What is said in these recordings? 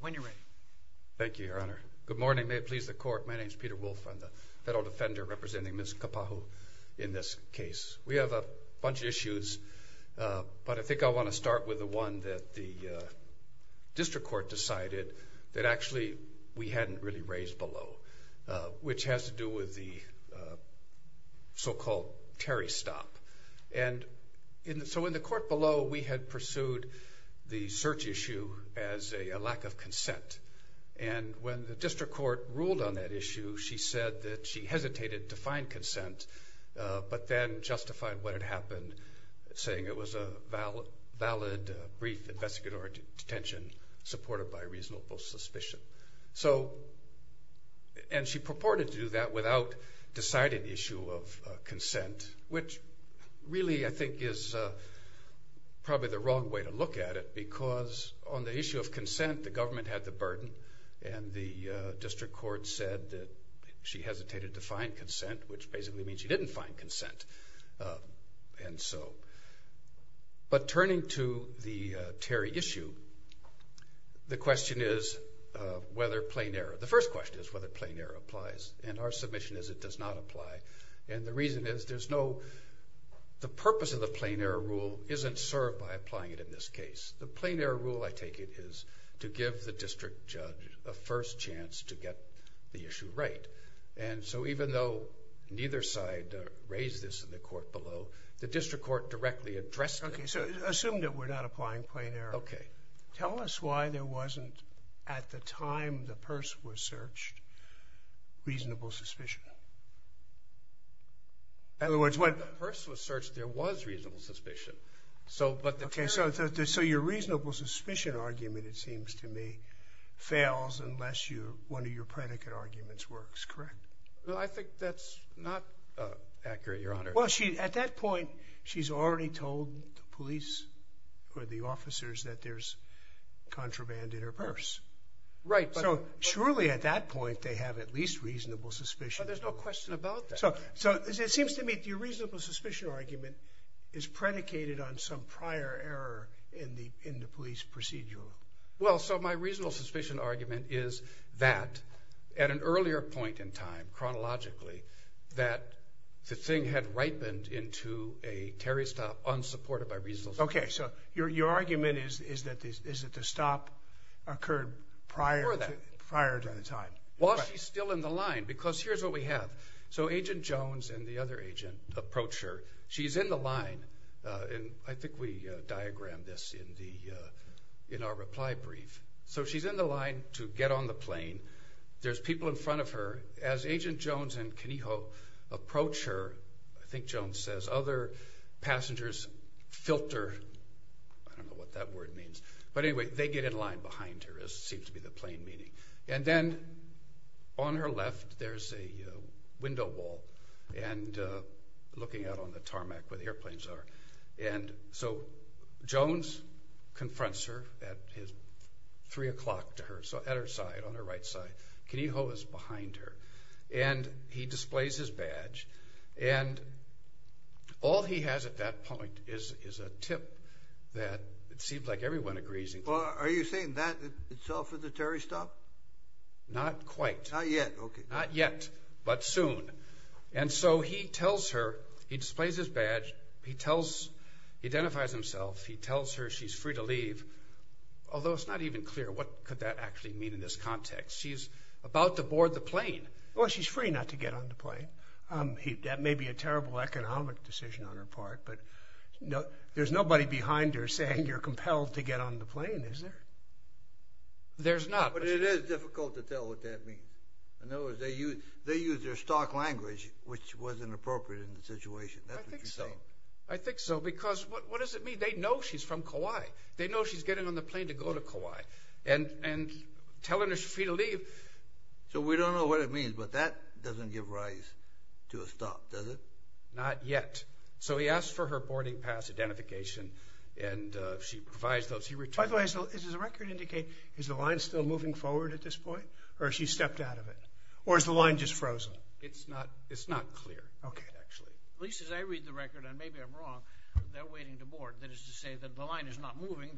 When you're ready. Thank you, Your Honor. Good morning. May it please the court. My name is Peter Wolf. I'm the federal defender representing Ms. Kapahu in this case. We have a bunch of issues, but I think I want to start with the one that the district court decided that actually we hadn't really raised below, which has to do with the so-called Terry stop. And so in the court below, we had pursued the search issue as a lack of consent. And when the district court ruled on that issue, she said that she hesitated to find consent, but then justified what had happened, saying it was a valid brief investigatory detention supported by reasonable suspicion. And she purported to do that without deciding the issue of consent, which really I think is probably the wrong way to look at it, because on the issue of consent, the government had the burden, and the district court said that she hesitated to find consent, which basically means she didn't find consent. And so, but turning to the Terry issue, the question is whether plain error, the first question is whether plain error applies, and our submission is it does not apply. And the reason is there's no, the purpose of the plain error rule isn't served by applying it in this case. The plain error rule, I take it, is to give the district judge a first chance to get the issue right. And so even though neither side raised this in the court below, the district court directly addressed it. Okay, so assume that we're not applying plain error. Okay. Tell us why there wasn't, at the time the purse was searched, reasonable suspicion. In other words, when the purse was searched, there was reasonable suspicion. Okay, so your reasonable suspicion argument, it seems to me, fails unless one of your predicate arguments works, correct? Well, I think that's not accurate, Your Honor. Well, at that point, she's already told the police or the officers that there's contraband in her purse. Right. So surely at that point, they have at least reasonable suspicion. But there's no question about that. So it seems to me that your reasonable suspicion argument is predicated on some prior error in the police procedure. Well, so my reasonable suspicion argument is that at an earlier point in time, chronologically, that the thing had ripened into a Terry stop unsupported by reasonable suspicion. Okay, so your argument is that the stop occurred prior to the time. While she's still in the line, because here's what we have. So Agent Jones and the other agent approach her. She's in the line, and I think we diagrammed this in our reply brief. So she's in the line to get on the plane. There's people in front of her. As Agent Jones and Keniho approach her, I think Jones says, other passengers filter. I don't know what that word means. But anyway, they get in line behind her, as seems to be the plain meaning. And then on her left, there's a window wall, and looking out on the tarmac where the airplanes are. And so Jones confronts her at his 3 o'clock to her, so at her side, on her right side. Keniho is behind her, and he displays his badge. And all he has at that point is a tip that it seems like everyone agrees. Well, are you saying that itself is a terrorist stop? Not quite. Not yet, okay. Not yet, but soon. And so he tells her, he displays his badge, he identifies himself, he tells her she's free to leave. Although it's not even clear what could that actually mean in this context. She's about to board the plane. Well, she's free not to get on the plane. That may be a terrible economic decision on her part. There's nobody behind her saying you're compelled to get on the plane, is there? There's not. But it is difficult to tell what that means. In other words, they use their stock language, which was inappropriate in the situation. I think so. I think so, because what does it mean? They know she's from Kauai. They know she's getting on the plane to go to Kauai. And telling her she's free to leave. So we don't know what it means, but that doesn't give rise to a stop, does it? Not yet. So he asks for her boarding pass identification, and she provides those. By the way, does the record indicate is the line still moving forward at this point, or has she stepped out of it? Or is the line just frozen? It's not clear, actually. At least as I read the record, and maybe I'm wrong, they're waiting to board. That is to say that the line is not moving.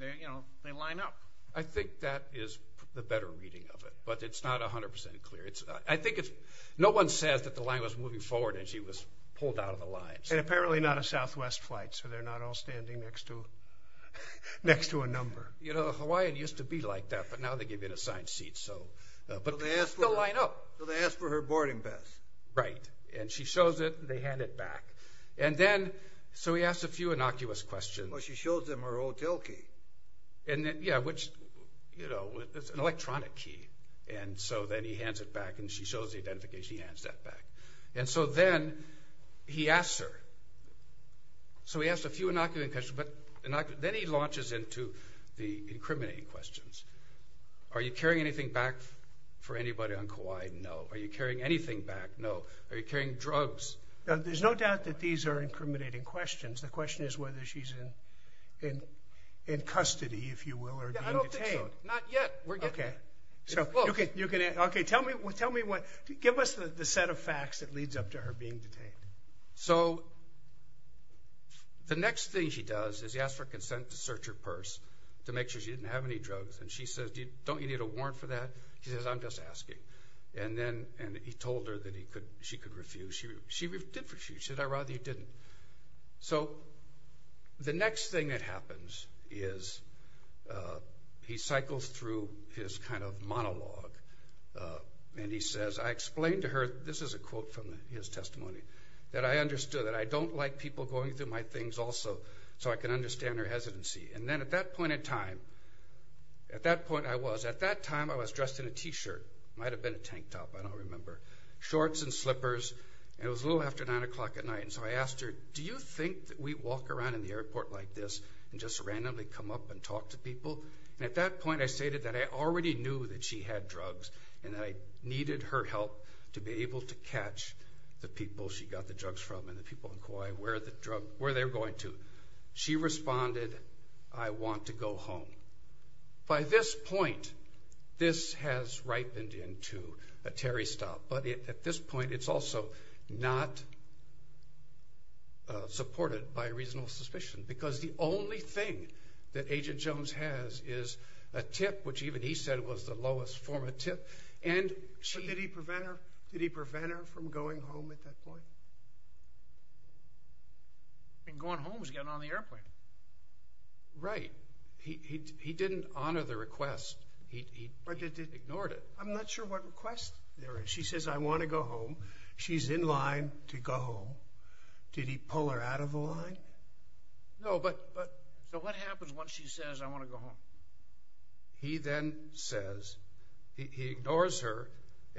They line up. I think that is the better reading of it, but it's not 100% clear. I think no one says that the line was moving forward and she was pulled out of the line. And apparently not a Southwest flight, so they're not all standing next to a number. You know, Hawaiian used to be like that, but now they give you an assigned seat. But they still line up. So they ask for her boarding pass. Right. And she shows it, and they hand it back. And then, so he asks a few innocuous questions. Well, she shows him her hotel key. Yeah, which, you know, it's an electronic key. And so then he hands it back, and she shows the identification, he hands that back. And so then he asks her. So he asks a few innocuous questions, but then he launches into the incriminating questions. Are you carrying anything back for anybody on Kauai? No. Are you carrying anything back? No. Are you carrying drugs? There's no doubt that these are incriminating questions. The question is whether she's in custody, if you will, or being detained. I don't think so. Not yet. We're getting there. Okay. It's close. Okay. You can answer. Okay. Tell me what, give us the set of facts that leads up to her being detained. So the next thing she does is he asks for consent to search her purse to make sure she didn't have any drugs. And she says, don't you need a warrant for that? He says, I'm just asking. And then he told her that she could refuse. She did refuse. He said, I'd rather you didn't. So the next thing that happens is he cycles through his kind of monologue. And he says, I explained to her, this is a quote from his testimony, that I understood that I don't like people going through my things also so I can understand her hesitancy. And then at that point in time, at that point I was, at that time I was dressed in a T-shirt. It might have been a tank top, I don't remember. Shorts and slippers. And it was a little after 9 o'clock at night and so I asked her, do you think that we walk around in the airport like this and just randomly come up and talk to people? And at that point I stated that I already knew that she had drugs and that I needed her help to be able to catch the people she got the drugs from and the people in Kauai where the drug, where they were going to. She responded, I want to go home. By this point, this has ripened into a Terry stop. But at this point it's also not supported by reasonable suspicion because the only thing that Agent Jones has is a tip, which even he said was the lowest form of tip. But did he prevent her? Did he prevent her from going home at that point? Going home was getting on the airplane. Right. He didn't honor the request. He ignored it. I'm not sure what request there is. She says, I want to go home. She's in line to go home. Did he pull her out of the line? No. So what happens once she says, I want to go home? He then says, he ignores her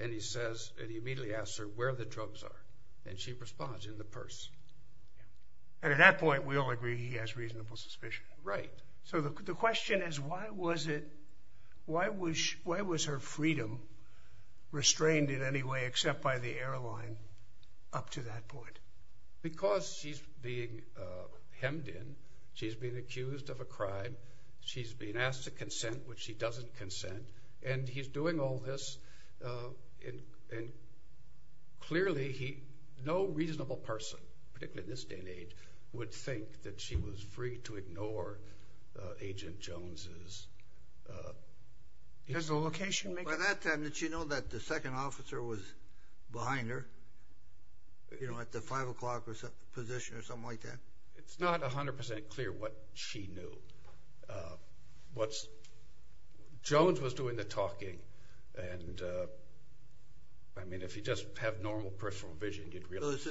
and he immediately asks her where the drugs are. And she responds, in the purse. And at that point we all agree he has reasonable suspicion. Right. So the question is, why was her freedom restrained in any way except by the airline up to that point? Because she's being hemmed in. She's being accused of a crime. She's being asked to consent, which she doesn't consent. And he's doing all this and clearly no reasonable person, particularly in this day and age, would think that she was free to ignore Agent Jones's. Does the location make sense? By that time, did she know that the second officer was behind her? You know, at the 5 o'clock position or something like that? It's not 100% clear what she knew. Jones was doing the talking. I mean, if you just have normal personal vision, you'd realize.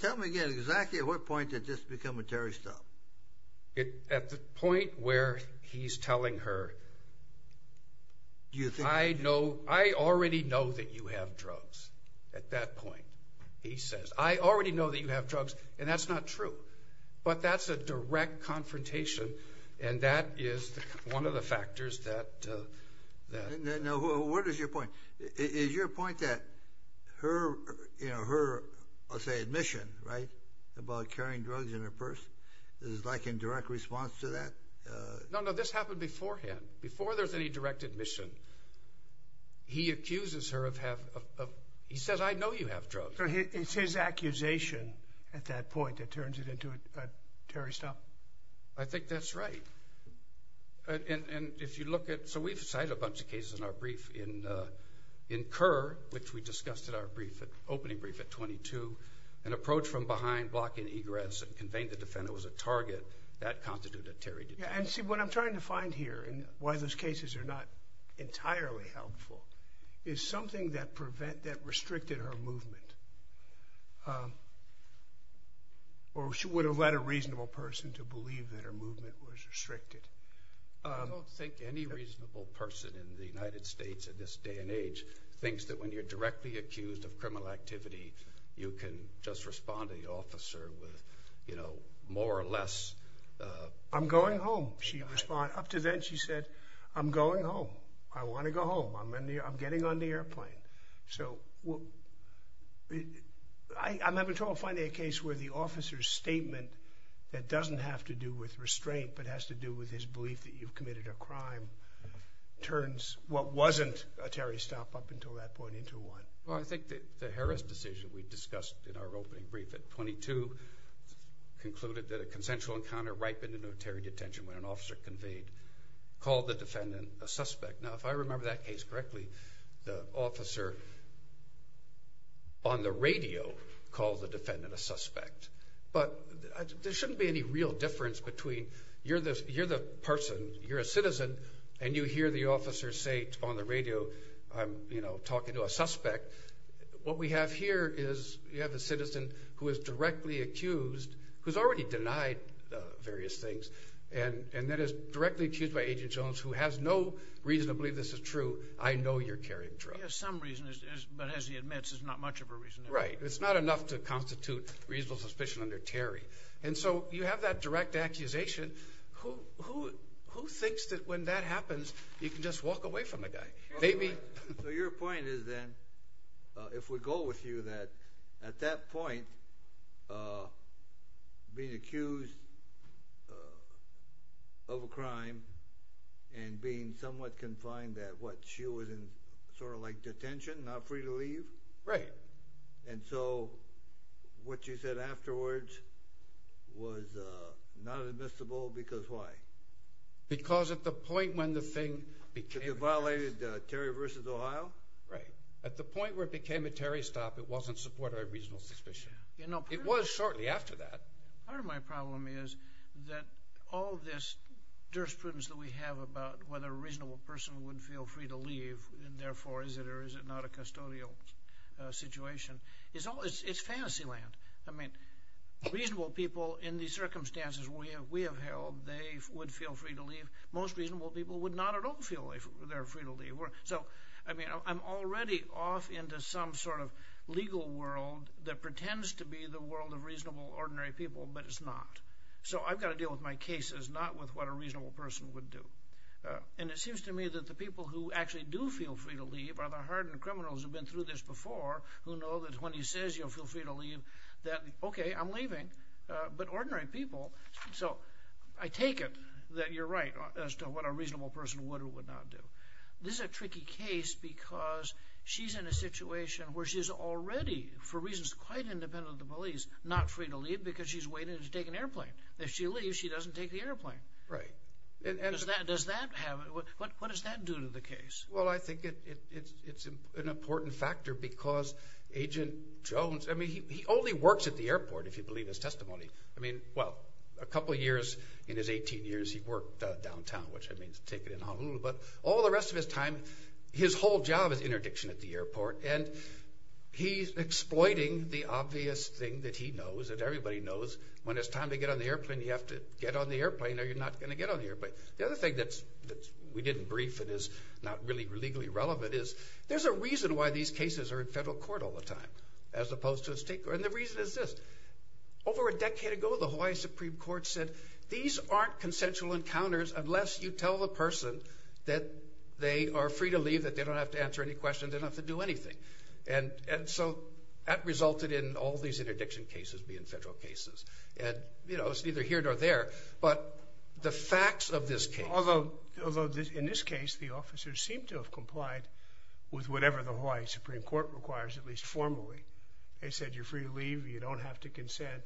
Tell me again, exactly at what point did this become a terrorist stop? At the point where he's telling her, I already know that you have drugs, at that point. He says, I already know that you have drugs. And that's not true. But that's a direct confrontation and that is one of the factors that. Now, what is your point? Is your point that her, I'll say admission, right, about carrying drugs in her purse, is like a direct response to that? No, no, this happened beforehand. Before there's any direct admission, he accuses her of, he says, I know you have drugs. So it's his accusation at that point that turns it into a terrorist stop? I think that's right. And if you look at, so we've cited a bunch of cases in our brief in Kerr, which we discussed in our opening brief at 22, an approach from behind blocking egress and conveying the defendant was a target, that constituted a terrorist attack. And see, what I'm trying to find here and why those cases are not entirely helpful is something that restricted her movement. Or she would have led a reasonable person to believe that her movement was restricted. I don't think any reasonable person in the United States in this day and age thinks that when you're directly accused of criminal activity, you can just respond to the officer with, you know, more or less, I'm going home. Up to then she said, I'm going home. I want to go home. I'm getting on the airplane. So I'm having trouble finding a case where the officer's statement that doesn't have to do with restraint, but has to do with his belief that you've committed a crime, turns what wasn't a terrorist stop up until that point into one. Well, I think that the Harris decision we discussed in our opening brief at 22 concluded that a consensual encounter ripened in a terrorist detention when an officer conveyed, called the defendant a suspect. Now, if I remember that case correctly, the officer on the radio called the defendant a suspect. But there shouldn't be any real difference between you're the person, you're a citizen, and you hear the officer say on the radio, you know, I'm talking to a suspect. What we have here is you have a citizen who is directly accused, who's already denied various things, and that is directly accused by Agent Jones, who has no reason to believe this is true. I know you're carrying drugs. He has some reason, but as he admits, it's not much of a reason. Right. It's not enough to constitute reasonable suspicion under Terry. And so you have that direct accusation. Who thinks that when that happens you can just walk away from the guy? So your point is then, if we go with you, that at that point, being accused of a crime and being somewhat confined, that what, she was in sort of like detention, not free to leave? Right. And so what you said afterwards was not admissible because why? Because at the point when the thing became— Because you violated Terry v. Ohio? Right. At the point where it became a Terry stop, it wasn't supported by reasonable suspicion. It was shortly after that. Part of my problem is that all this jurisprudence that we have about whether a reasonable person would feel free to leave and therefore is it or is it not a custodial situation, it's fantasy land. I mean, reasonable people in the circumstances we have held, they would feel free to leave. Most reasonable people would not at all feel they're free to leave. So, I mean, I'm already off into some sort of legal world that pretends to be the world of reasonable, ordinary people, but it's not. So I've got to deal with my cases, not with what a reasonable person would do. And it seems to me that the people who actually do feel free to leave are the hardened criminals who have been through this before who know that when he says you'll feel free to leave, that, okay, I'm leaving. But ordinary people, so I take it that you're right as to what a reasonable person would or would not do. This is a tricky case because she's in a situation where she's already, for reasons quite independent of the police, not free to leave because she's waiting to take an airplane. If she leaves, she doesn't take the airplane. Right. What does that do to the case? Well, I think it's an important factor because Agent Jones, I mean, he only works at the airport, if you believe his testimony. I mean, well, a couple of years in his 18 years, he worked downtown, which I mean to take it in Honolulu. But all the rest of his time, his whole job is interdiction at the airport. And he's exploiting the obvious thing that he knows, that everybody knows, when it's time to get on the airplane, you have to get on the airplane or you're not going to get on the airplane. The other thing that we didn't brief and is not really legally relevant is there's a reason why these cases are in federal court all the time as opposed to state court. And the reason is this. Over a decade ago, the Hawaii Supreme Court said, these aren't consensual encounters unless you tell the person that they are free to leave, that they don't have to answer any questions, they don't have to do anything. And so that resulted in all these interdiction cases being federal cases. And, you know, it's neither here nor there. But the facts of this case. Although in this case, the officers seem to have complied with whatever the Hawaii Supreme Court requires, at least formally. They said you're free to leave, you don't have to consent.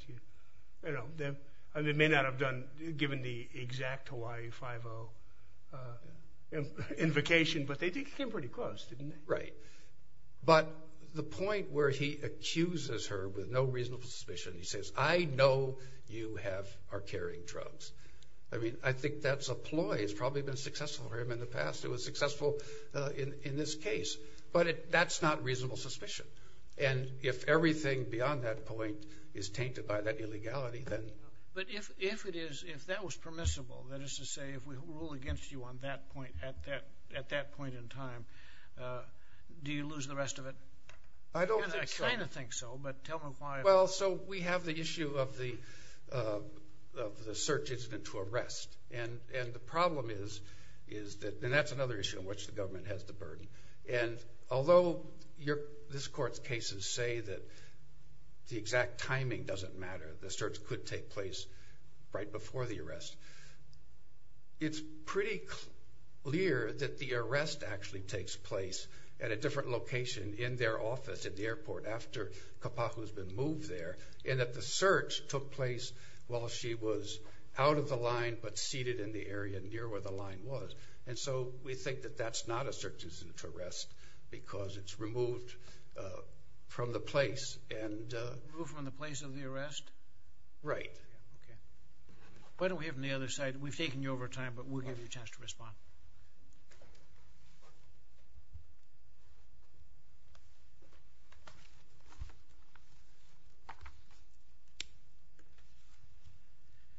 They may not have given the exact Hawaii 5-0 invocation, but they came pretty close, didn't they? Right. But the point where he accuses her with no reasonable suspicion, he says, I know you are carrying drugs. I mean, I think that's a ploy. It's probably been successful for him in the past. It was successful in this case. But that's not reasonable suspicion. And if everything beyond that point is tainted by that illegality, then. But if that was permissible, that is to say, if we rule against you at that point in time, do you lose the rest of it? I don't think so. I kind of think so, but tell me why. Well, so we have the issue of the search incident to arrest. And the problem is that that's another issue in which the government has the burden. And although this court's cases say that the exact timing doesn't matter, the search could take place right before the arrest, it's pretty clear that the arrest actually takes place at a different location in their office at the airport after Kapahu has been moved there, and that the search took place while she was out of the line but seated in the area near where the line was. And so we think that that's not a search incident to arrest because it's removed from the place. Removed from the place of the arrest? Right. Okay. Why don't we have them on the other side? We've taken you over time, but we'll give you a chance to respond.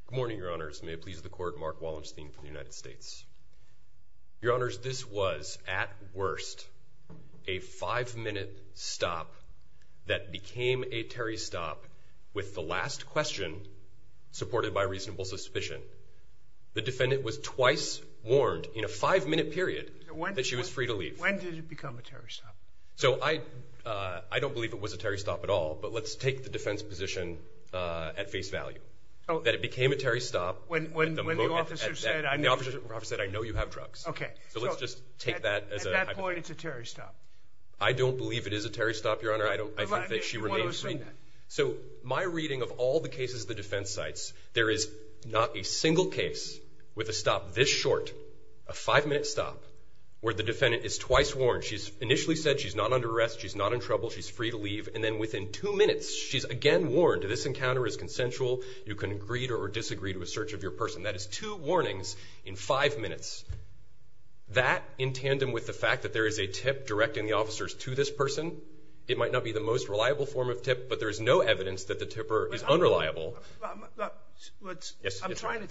Good morning, Your Honors. May it please the Court, Mark Wallenstein from the United States. Your Honors, this was at worst a five-minute stop that became a Terry stop with the last question supported by reasonable suspicion. The defendant was twice warned in a five-minute period that she was free to leave. When did it become a Terry stop? So I don't believe it was a Terry stop at all, but let's take the defense position at face value, that it became a Terry stop. When the officer said, I know you have drugs. Okay. So let's just take that as a hypothesis. At that point, it's a Terry stop. I don't believe it is a Terry stop, Your Honor. I think that she remains free. So my reading of all the cases the defense cites, there is not a single case with a stop this short, a five-minute stop, where the defendant is twice warned. She's initially said she's not under arrest, she's not in trouble, she's free to leave, and then within two minutes she's again warned, this encounter is consensual, you can agree to or disagree to a search of your person. That is two warnings in five minutes. That in tandem with the fact that there is a tip directing the officers to this person, it might not be the most reliable form of tip, but there is no evidence that the tipper is unreliable. I'm trying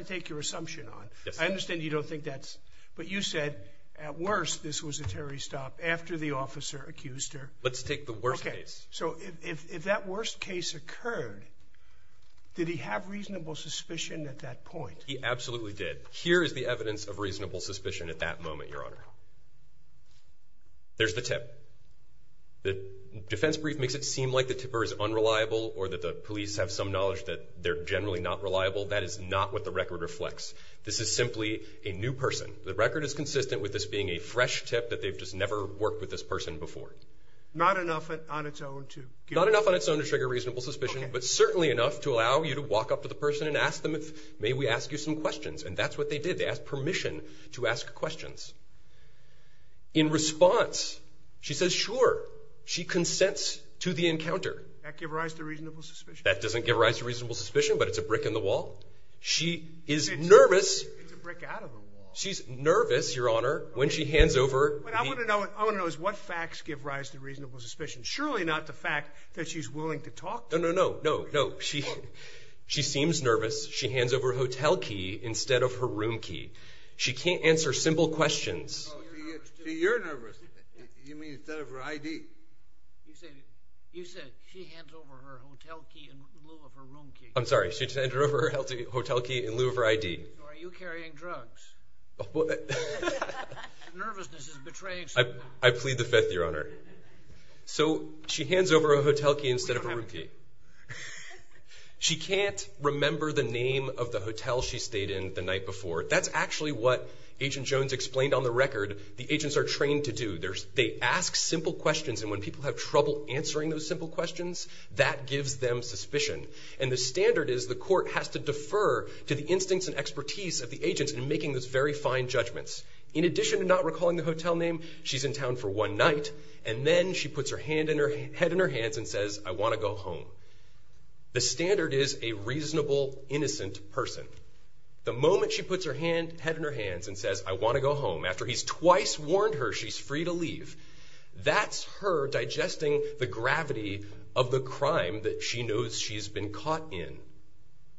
to take your assumption on it. I understand you don't think that's, but you said at worst this was a Terry stop after the officer accused her. Let's take the worst case. Okay, so if that worst case occurred, did he have reasonable suspicion at that point? He absolutely did. Here is the evidence of reasonable suspicion at that moment, Your Honor. There's the tip. The defense brief makes it seem like the tipper is unreliable or that the police have some knowledge that they're generally not reliable. That is not what the record reflects. This is simply a new person. The record is consistent with this being a fresh tip that they've just never worked with this person before. Not enough on its own to give? Not enough on its own to trigger reasonable suspicion, but certainly enough to allow you to walk up to the person and ask them, may we ask you some questions? And that's what they did. They asked permission to ask questions. In response, she says, sure. She consents to the encounter. That gives rise to reasonable suspicion? That doesn't give rise to reasonable suspicion, but it's a brick in the wall. She is nervous. It's a brick out of the wall. She's nervous, Your Honor, when she hands over. What I want to know is what facts give rise to reasonable suspicion. Surely not the fact that she's willing to talk to me. No, no, no. She seems nervous. She hands over her hotel key instead of her room key. She can't answer simple questions. So you're nervous. You mean instead of her ID. You said she hands over her hotel key in lieu of her room key. I'm sorry. She handed over her hotel key in lieu of her ID. Are you carrying drugs? Nervousness is betraying someone. I plead the Fifth, Your Honor. So she hands over her hotel key instead of her room key. She can't remember the name of the hotel she stayed in the night before. That's actually what Agent Jones explained on the record. The agents are trained to do. They ask simple questions, and when people have trouble answering those simple questions, that gives them suspicion. And the standard is the court has to defer to the instincts and expertise of the agents in making those very fine judgments. In addition to not recalling the hotel name, she's in town for one night, and then she puts her head in her hands and says, I want to go home. The standard is a reasonable, innocent person. The moment she puts her head in her hands and says, That's her digesting the gravity of the crime that she knows she's been caught in.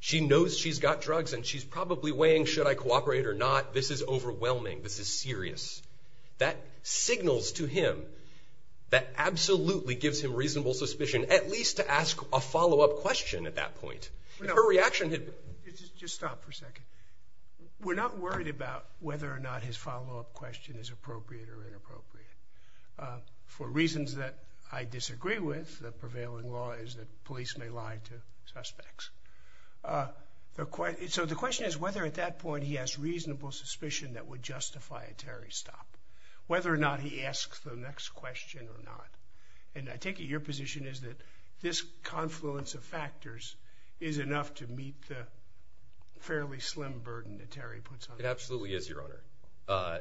She knows she's got drugs, and she's probably weighing, should I cooperate or not? This is overwhelming. This is serious. That signals to him, that absolutely gives him reasonable suspicion, at least to ask a follow-up question at that point. Her reaction had been... Just stop for a second. We're not worried about whether or not his follow-up question is appropriate or inappropriate. For reasons that I disagree with, the prevailing law is that police may lie to suspects. So the question is whether at that point he has reasonable suspicion that would justify a Terry stop, whether or not he asks the next question or not. And I take it your position is that this confluence of factors is enough to meet the fairly slim burden that Terry puts on us. It absolutely is, Your Honor.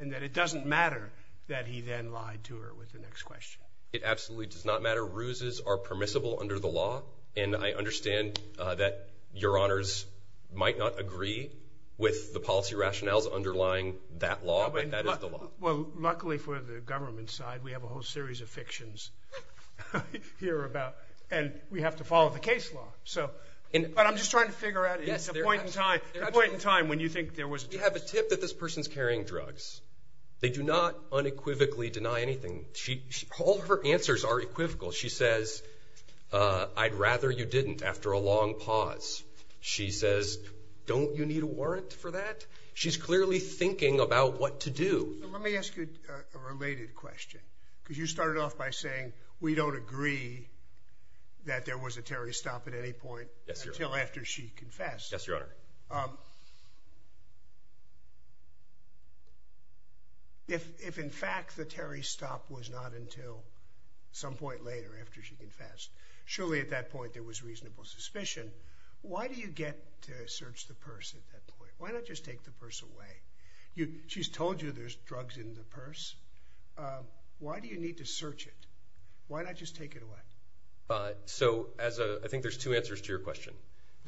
And that it doesn't matter that he then lied to her with the next question. It absolutely does not matter. Ruses are permissible under the law, and I understand that Your Honors might not agree with the policy rationales underlying that law, but that is the law. Well, luckily for the government side, we have a whole series of fictions here about... And we have to follow the case law. But I'm just trying to figure out a point in time when you think there was... You have a tip that this person's carrying drugs. They do not unequivocally deny anything. All her answers are equivocal. She says, I'd rather you didn't after a long pause. She says, don't you need a warrant for that? She's clearly thinking about what to do. Let me ask you a related question, because you started off by saying we don't agree that there was a Terry stop at any point until after she confessed. Yes, Your Honor. If, in fact, the Terry stop was not until some point later after she confessed, surely at that point there was reasonable suspicion. Why do you get to search the purse at that point? Why not just take the purse away? She's told you there's drugs in the purse. Why do you need to search it? Why not just take it away? The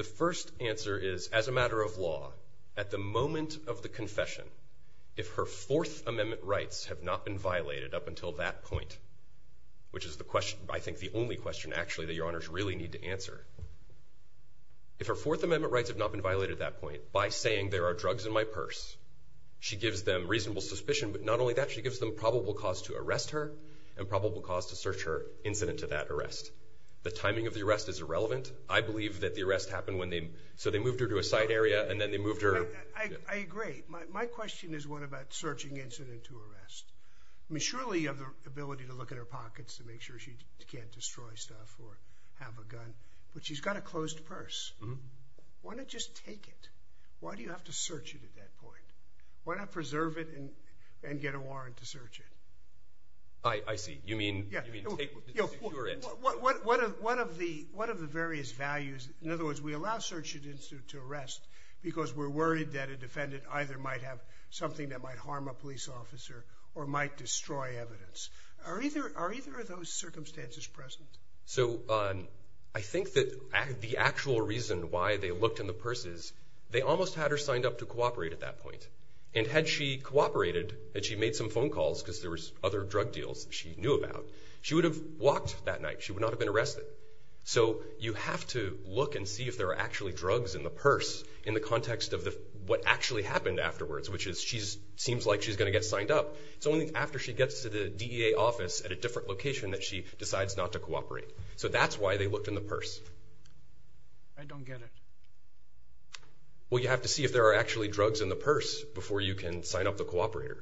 first answer is, actually, as a matter of law, at the moment of the confession, if her Fourth Amendment rights have not been violated up until that point, which is the question, I think, the only question, actually, that Your Honors really need to answer, if her Fourth Amendment rights have not been violated at that point, by saying there are drugs in my purse, she gives them reasonable suspicion, but not only that, she gives them probable cause to arrest her and probable cause to search her incident to that arrest. The timing of the arrest is irrelevant. I believe that the arrest happened when they... So they moved her to a side area, and then they moved her... I agree. My question is one about searching incident to arrest. I mean, surely you have the ability to look in her pockets to make sure she can't destroy stuff or have a gun, but she's got a closed purse. Why not just take it? Why do you have to search it at that point? Why not preserve it and get a warrant to search it? I see. You mean... One of the various values... In other words, we allow search incidents to arrest because we're worried that a defendant either might have something that might harm a police officer or might destroy evidence. Are either of those circumstances present? So I think that the actual reason why they looked in the purse is they almost had her signed up to cooperate at that point, and had she cooperated, had she made some phone calls because there was other drug deals she knew about, she would have walked that night. She would not have been arrested. So you have to look and see if there are actually drugs in the purse in the context of what actually happened afterwards, which is she seems like she's going to get signed up. It's only after she gets to the DEA office at a different location that she decides not to cooperate. So that's why they looked in the purse. I don't get it. Well, you have to see if there are actually drugs in the purse before you can sign up to cooperate.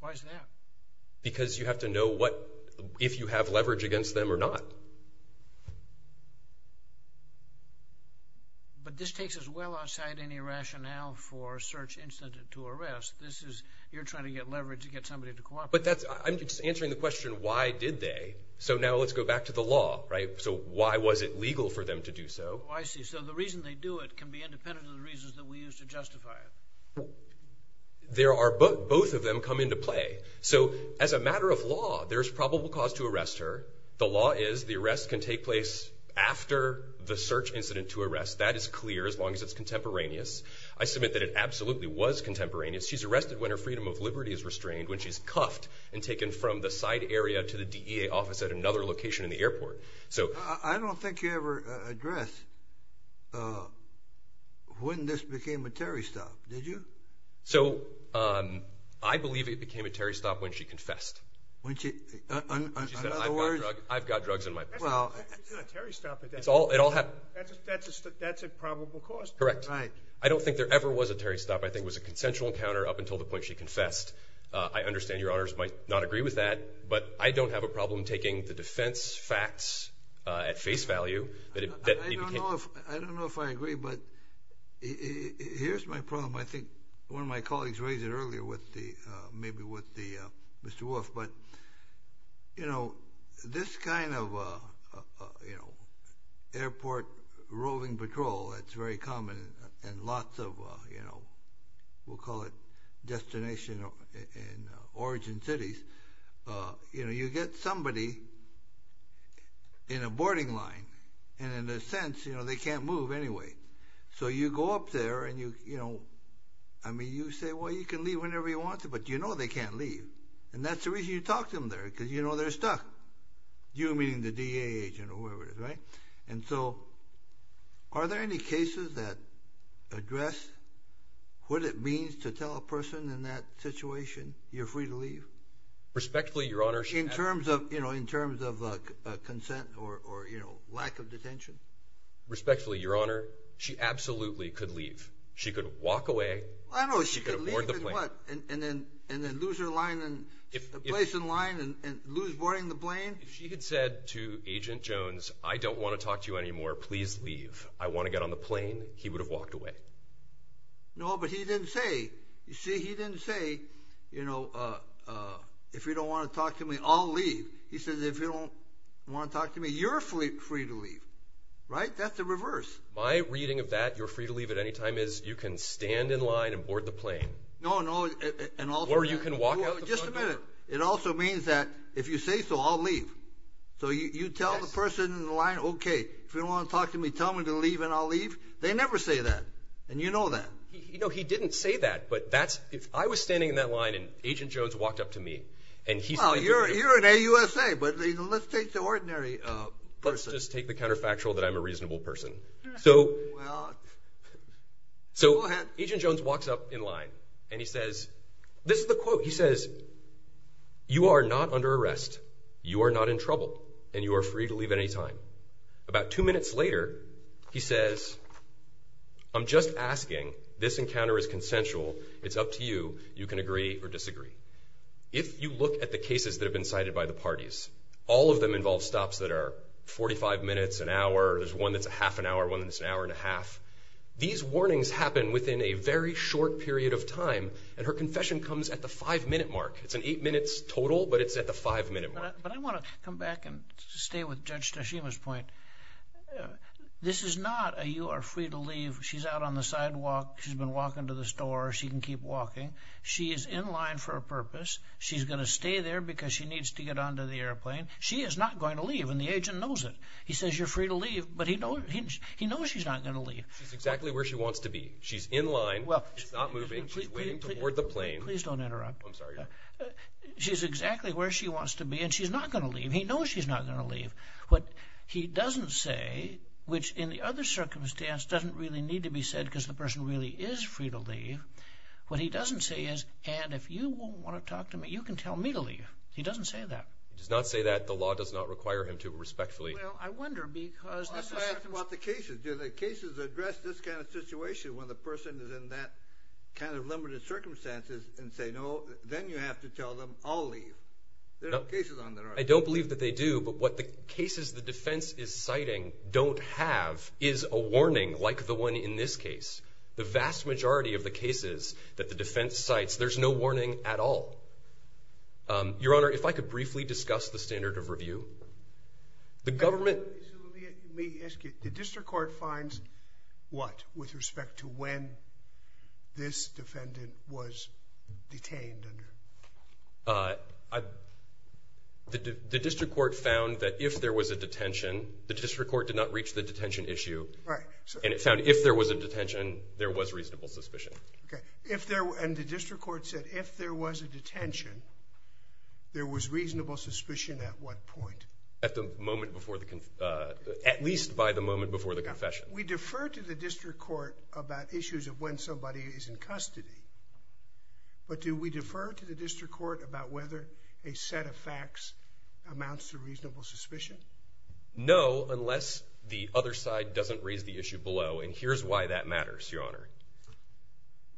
Why is that? Because you have to know if you have leverage against them or not. But this takes us well outside any rationale for a search incident to arrest. You're trying to get leverage to get somebody to cooperate. But I'm just answering the question, why did they? So now let's go back to the law, right? So why was it legal for them to do so? I see. So the reason they do it can be independent of the reasons that we use to justify it. Both of them come into play. So as a matter of law, there's probable cause to arrest her. The law is the arrest can take place after the search incident to arrest. That is clear as long as it's contemporaneous. I submit that it absolutely was contemporaneous. She's arrested when her freedom of liberty is restrained, when she's cuffed and taken from the side area to the DEA office at another location in the airport. I don't think you ever addressed when this became a Terry stop, did you? So I believe it became a Terry stop when she confessed. When she said, I've got drugs in my purse. It's not a Terry stop. That's a probable cause. Correct. Right. I don't think there ever was a Terry stop. I think it was a consensual encounter up until the point she confessed. I understand Your Honors might not agree with that, but I don't have a problem taking the defense facts at face value. I don't know if I agree, but here's my problem. I think one of my colleagues raised it earlier, maybe with Mr. Wolf, but this kind of airport roving patrol that's very common and lots of, we'll call it, destination and origin cities, you get somebody in a boarding line, and in a sense, they can't move anyway. So you go up there and you say, well, you can leave whenever you want to, but you know they can't leave, and that's the reason you talk to them there because you know they're stuck, you meaning the DEA agent or whoever it is. And so are there any cases that address what it means to tell a person in that situation you're free to leave? Respectfully, Your Honor. In terms of consent or lack of detention? Respectfully, Your Honor, she absolutely could leave. She could walk away. I don't know if she could leave and what? And then lose her place in line and lose boarding the plane? She had said to Agent Jones, I don't want to talk to you anymore. Please leave. I want to get on the plane. He would have walked away. No, but he didn't say, you see, he didn't say, you know, if you don't want to talk to me, I'll leave. He said if you don't want to talk to me, you're free to leave. Right? That's the reverse. My reading of that, you're free to leave at any time, is you can stand in line and board the plane. No, no. Or you can walk out the front door. Just a minute. It also means that if you say so, I'll leave. So you tell the person in line, okay, if you don't want to talk to me, tell me to leave and I'll leave. They never say that, and you know that. No, he didn't say that, but that's – I was standing in that line and Agent Jones walked up to me. Well, you're an AUSA, but let's take the ordinary person. Let's just take the counterfactual that I'm a reasonable person. Well, go ahead. So Agent Jones walks up in line, and he says – this is the quote. He says, you are not under arrest, you are not in trouble, and you are free to leave at any time. About two minutes later, he says, I'm just asking. This encounter is consensual. It's up to you. You can agree or disagree. If you look at the cases that have been cited by the parties, all of them involve stops that are 45 minutes, an hour, there's one that's a half an hour, one that's an hour and a half. These warnings happen within a very short period of time, and her confession comes at the five-minute mark. It's an eight minutes total, but it's at the five-minute mark. But I want to come back and stay with Judge Tashima's point. This is not a you are free to leave, she's out on the sidewalk, she's been walking to the store, she can keep walking. She is in line for a purpose. She's going to stay there because she needs to get onto the airplane. She is not going to leave, and the agent knows it. He says you're free to leave, but he knows she's not going to leave. She's exactly where she wants to be. She's in line. She's not moving. She's waiting to board the plane. Please don't interrupt. I'm sorry. She's exactly where she wants to be, and she's not going to leave. He knows she's not going to leave. What he doesn't say, which in the other circumstance doesn't really need to be said because the person really is free to leave, what he doesn't say is, and if you won't want to talk to me, you can tell me to leave. He doesn't say that. He does not say that. The law does not require him to respectfully. Well, I wonder because this is… I have to ask about the cases. Do the cases address this kind of situation when the person is in that kind of limited circumstances and say, no, then you have to tell them I'll leave. There are no cases on that. I don't believe that they do, but what the cases the defense is citing don't have is a warning like the one in this case. The vast majority of the cases that the defense cites, there's no warning at all. Your Honor, if I could briefly discuss the standard of review. The government… Let me ask you. The district court finds what with respect to when this defendant was detained? The district court found that if there was a detention, the district court did not reach the detention issue. Right. And it found if there was a detention, there was reasonable suspicion. Okay. And the district court said if there was a detention, there was reasonable suspicion at what point? At least by the moment before the confession. We defer to the district court about issues of when somebody is in custody, but do we defer to the district court about whether a set of facts amounts to reasonable suspicion? No, unless the other side doesn't raise the issue below, and here's why that matters, Your Honor.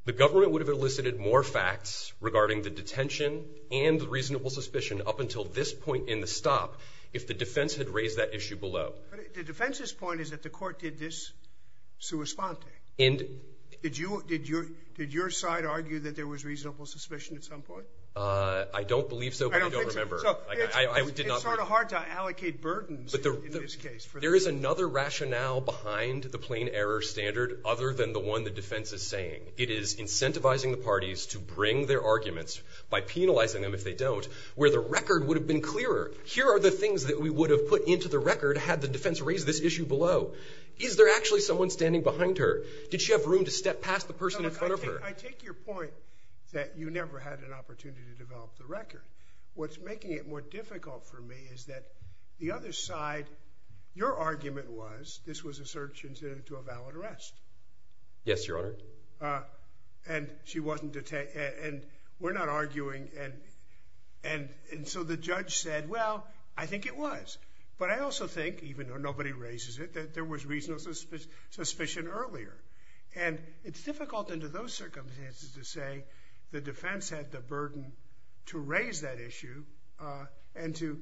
The government would have elicited more facts regarding the detention and reasonable suspicion up until this point in the stop if the defense had raised that issue below. The defense's point is that the court did this sua sponte. Did your side argue that there was reasonable suspicion at some point? I don't believe so, but I don't remember. It's sort of hard to allocate burdens in this case. There is another rationale behind the plain error standard other than the one the defense is saying. It is incentivizing the parties to bring their arguments by penalizing them if they don't where the record would have been clearer. Here are the things that we would have put into the record had the defense raised this issue below. Is there actually someone standing behind her? Did she have room to step past the person in front of her? I take your point that you never had an opportunity to develop the record. What's making it more difficult for me is that the other side, your argument was this was a search into a valid arrest. Yes, Your Honor. And she wasn't detained. And we're not arguing. And so the judge said, well, I think it was. But I also think, even though nobody raises it, that there was reasonable suspicion earlier. And it's difficult under those circumstances to say the defense had the burden to raise that issue and to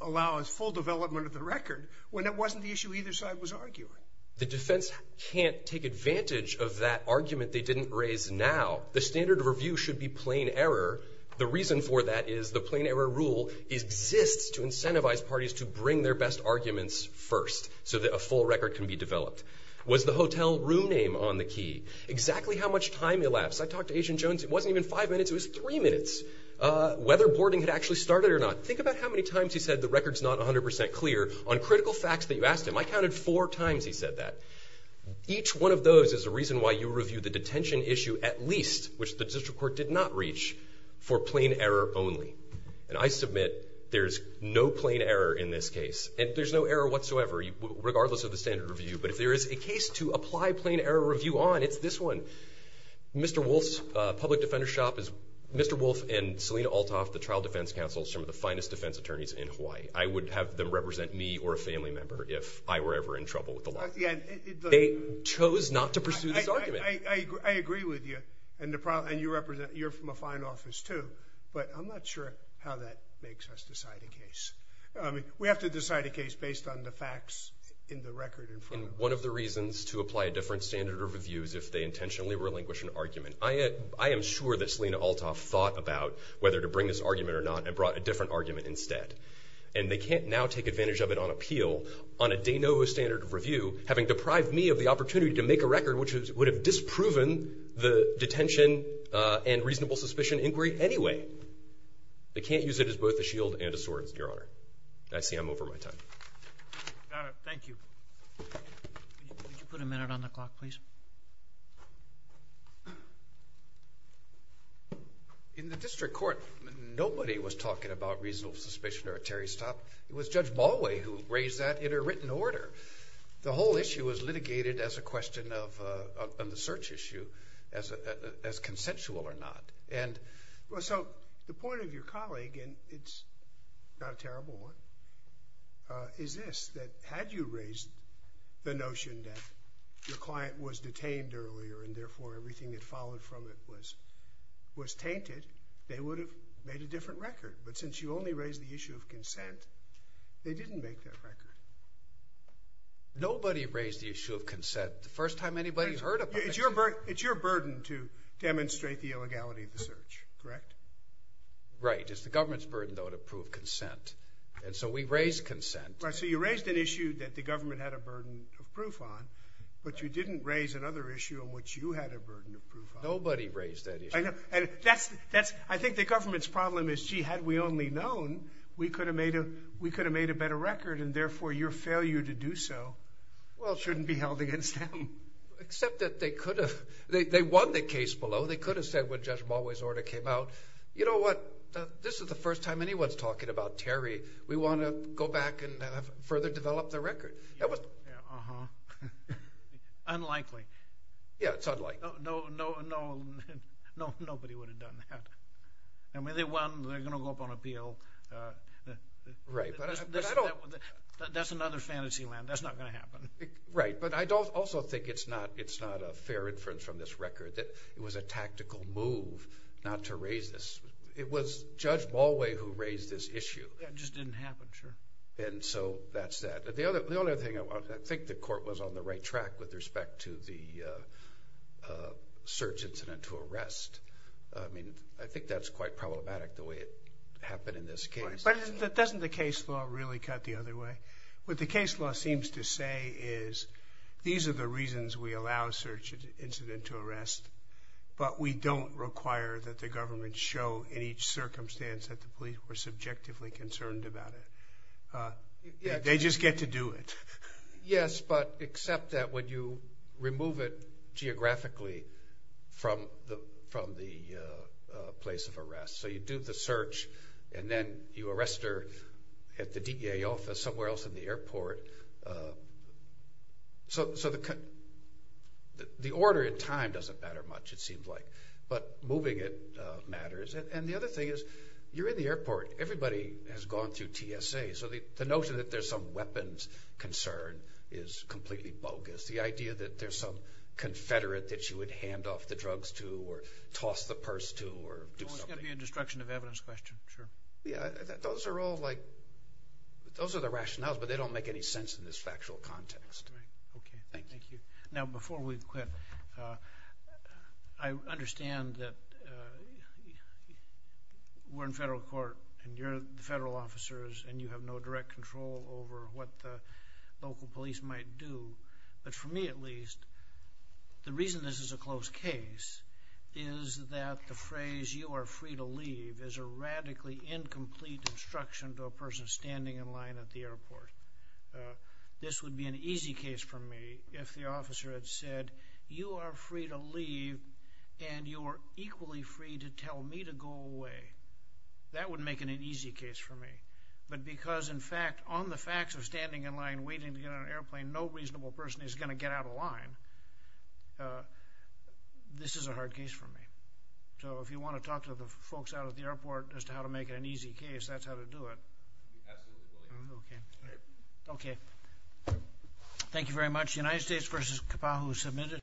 allow a full development of the record when it wasn't the issue either side was arguing. The defense can't take advantage of that argument they didn't raise now. The standard of review should be plain error. The reason for that is the plain error rule exists to incentivize parties to bring their best arguments first so that a full record can be developed. Was the hotel room name on the key? Exactly how much time elapsed? I talked to Agent Jones. It wasn't even five minutes. It was three minutes. Whether boarding had actually started or not. Think about how many times he said the record's not 100% clear on critical facts that you asked him. I counted four times he said that. Each one of those is a reason why you review the detention issue at least, which the district court did not reach, for plain error only. And I submit there's no plain error in this case. And there's no error whatsoever, regardless of the standard of review. But if there is a case to apply plain error review on, it's this one. Mr. Wolfe's public defender shop is Mr. Wolfe and Selina Althoff, the trial defense counsel, some of the finest defense attorneys in Hawaii. I would have them represent me or a family member if I were ever in trouble with the law. They chose not to pursue this argument. I agree with you. And you're from a fine office, too. But I'm not sure how that makes us decide a case. We have to decide a case based on the facts in the record. One of the reasons to apply a different standard of review is if they intentionally relinquish an argument. I am sure that Selina Althoff thought about whether to bring this argument or not and brought a different argument instead. And they can't now take advantage of it on appeal on a de novo standard of review, having deprived me of the opportunity to make a record which would have disproven the detention and reasonable suspicion inquiry anyway. They can't use it as both a shield and a sword, Your Honor. I see I'm over my time. Got it. Thank you. Could you put a minute on the clock, please? In the district court, nobody was talking about reasonable suspicion or a Terry Stopp. It was Judge Balway who raised that in a written order. The whole issue was litigated as a question on the search issue as consensual or not. So the point of your colleague, and it's not a terrible one, is this, that had you raised the notion that your client was detained earlier and, therefore, everything that followed from it was tainted, they would have made a different record. But since you only raised the issue of consent, they didn't make that record. Nobody raised the issue of consent the first time anybody has heard of it. It's your burden to demonstrate the illegality of the search, correct? Right. It's the government's burden, though, to prove consent. And so we raised consent. So you raised an issue that the government had a burden of proof on, but you didn't raise another issue on which you had a burden of proof on. Nobody raised that issue. I think the government's problem is, gee, had we only known, we could have made a better record, and, therefore, your failure to do so, well, shouldn't be held against them. Except that they could have. They won the case below. They could have said when Judge Balway's order came out, you know what, this is the first time anyone's talking about Terry. We want to go back and further develop the record. Yeah, uh-huh. Unlikely. Yeah, it's unlikely. No, nobody would have done that. I mean, they won. They're going to go up on appeal. Right. That's another fantasy land. That's not going to happen. Right. But I also think it's not a fair inference from this record that it was a tactical move not to raise this. It was Judge Balway who raised this issue. Yeah, it just didn't happen, sure. And so that's that. The only other thing, I think the court was on the right track with respect to the search incident to arrest. I mean, I think that's quite problematic, the way it happened in this case. But doesn't the case law really cut the other way? What the case law seems to say is these are the reasons we allow search incident to arrest, but we don't require that the government show in each circumstance that the police were subjectively concerned about it. They just get to do it. Yes, but except that when you remove it geographically from the place of arrest. So you do the search and then you arrest her at the DEA office somewhere else in the airport. So the order in time doesn't matter much, it seems like. But moving it matters. And the other thing is you're in the airport. Everybody has gone through TSA. So the notion that there's some weapons concern is completely bogus. The idea that there's some confederate that you would hand off the drugs to or toss the purse to or do something. It's going to be a destruction of evidence question, sure. Those are the rationales, but they don't make any sense in this factual context. Okay, thank you. Now before we quit, I understand that we're in federal court and you're the federal officers and you have no direct control over what the local police might do. But for me at least, the reason this is a close case is that the phrase you are free to leave is a radically incomplete instruction to a person standing in line at the airport. This would be an easy case for me if the officer had said you are free to leave and you are equally free to tell me to go away. That would make it an easy case for me. But because in fact on the facts of standing in line waiting to get on an airplane, no reasonable person is going to get out of line. This is a hard case for me. So if you want to talk to the folks out at the airport as to how to make it an easy case, that's how to do it. Absolutely. Okay. Thank you very much. The United States v. Kapa'a who submitted.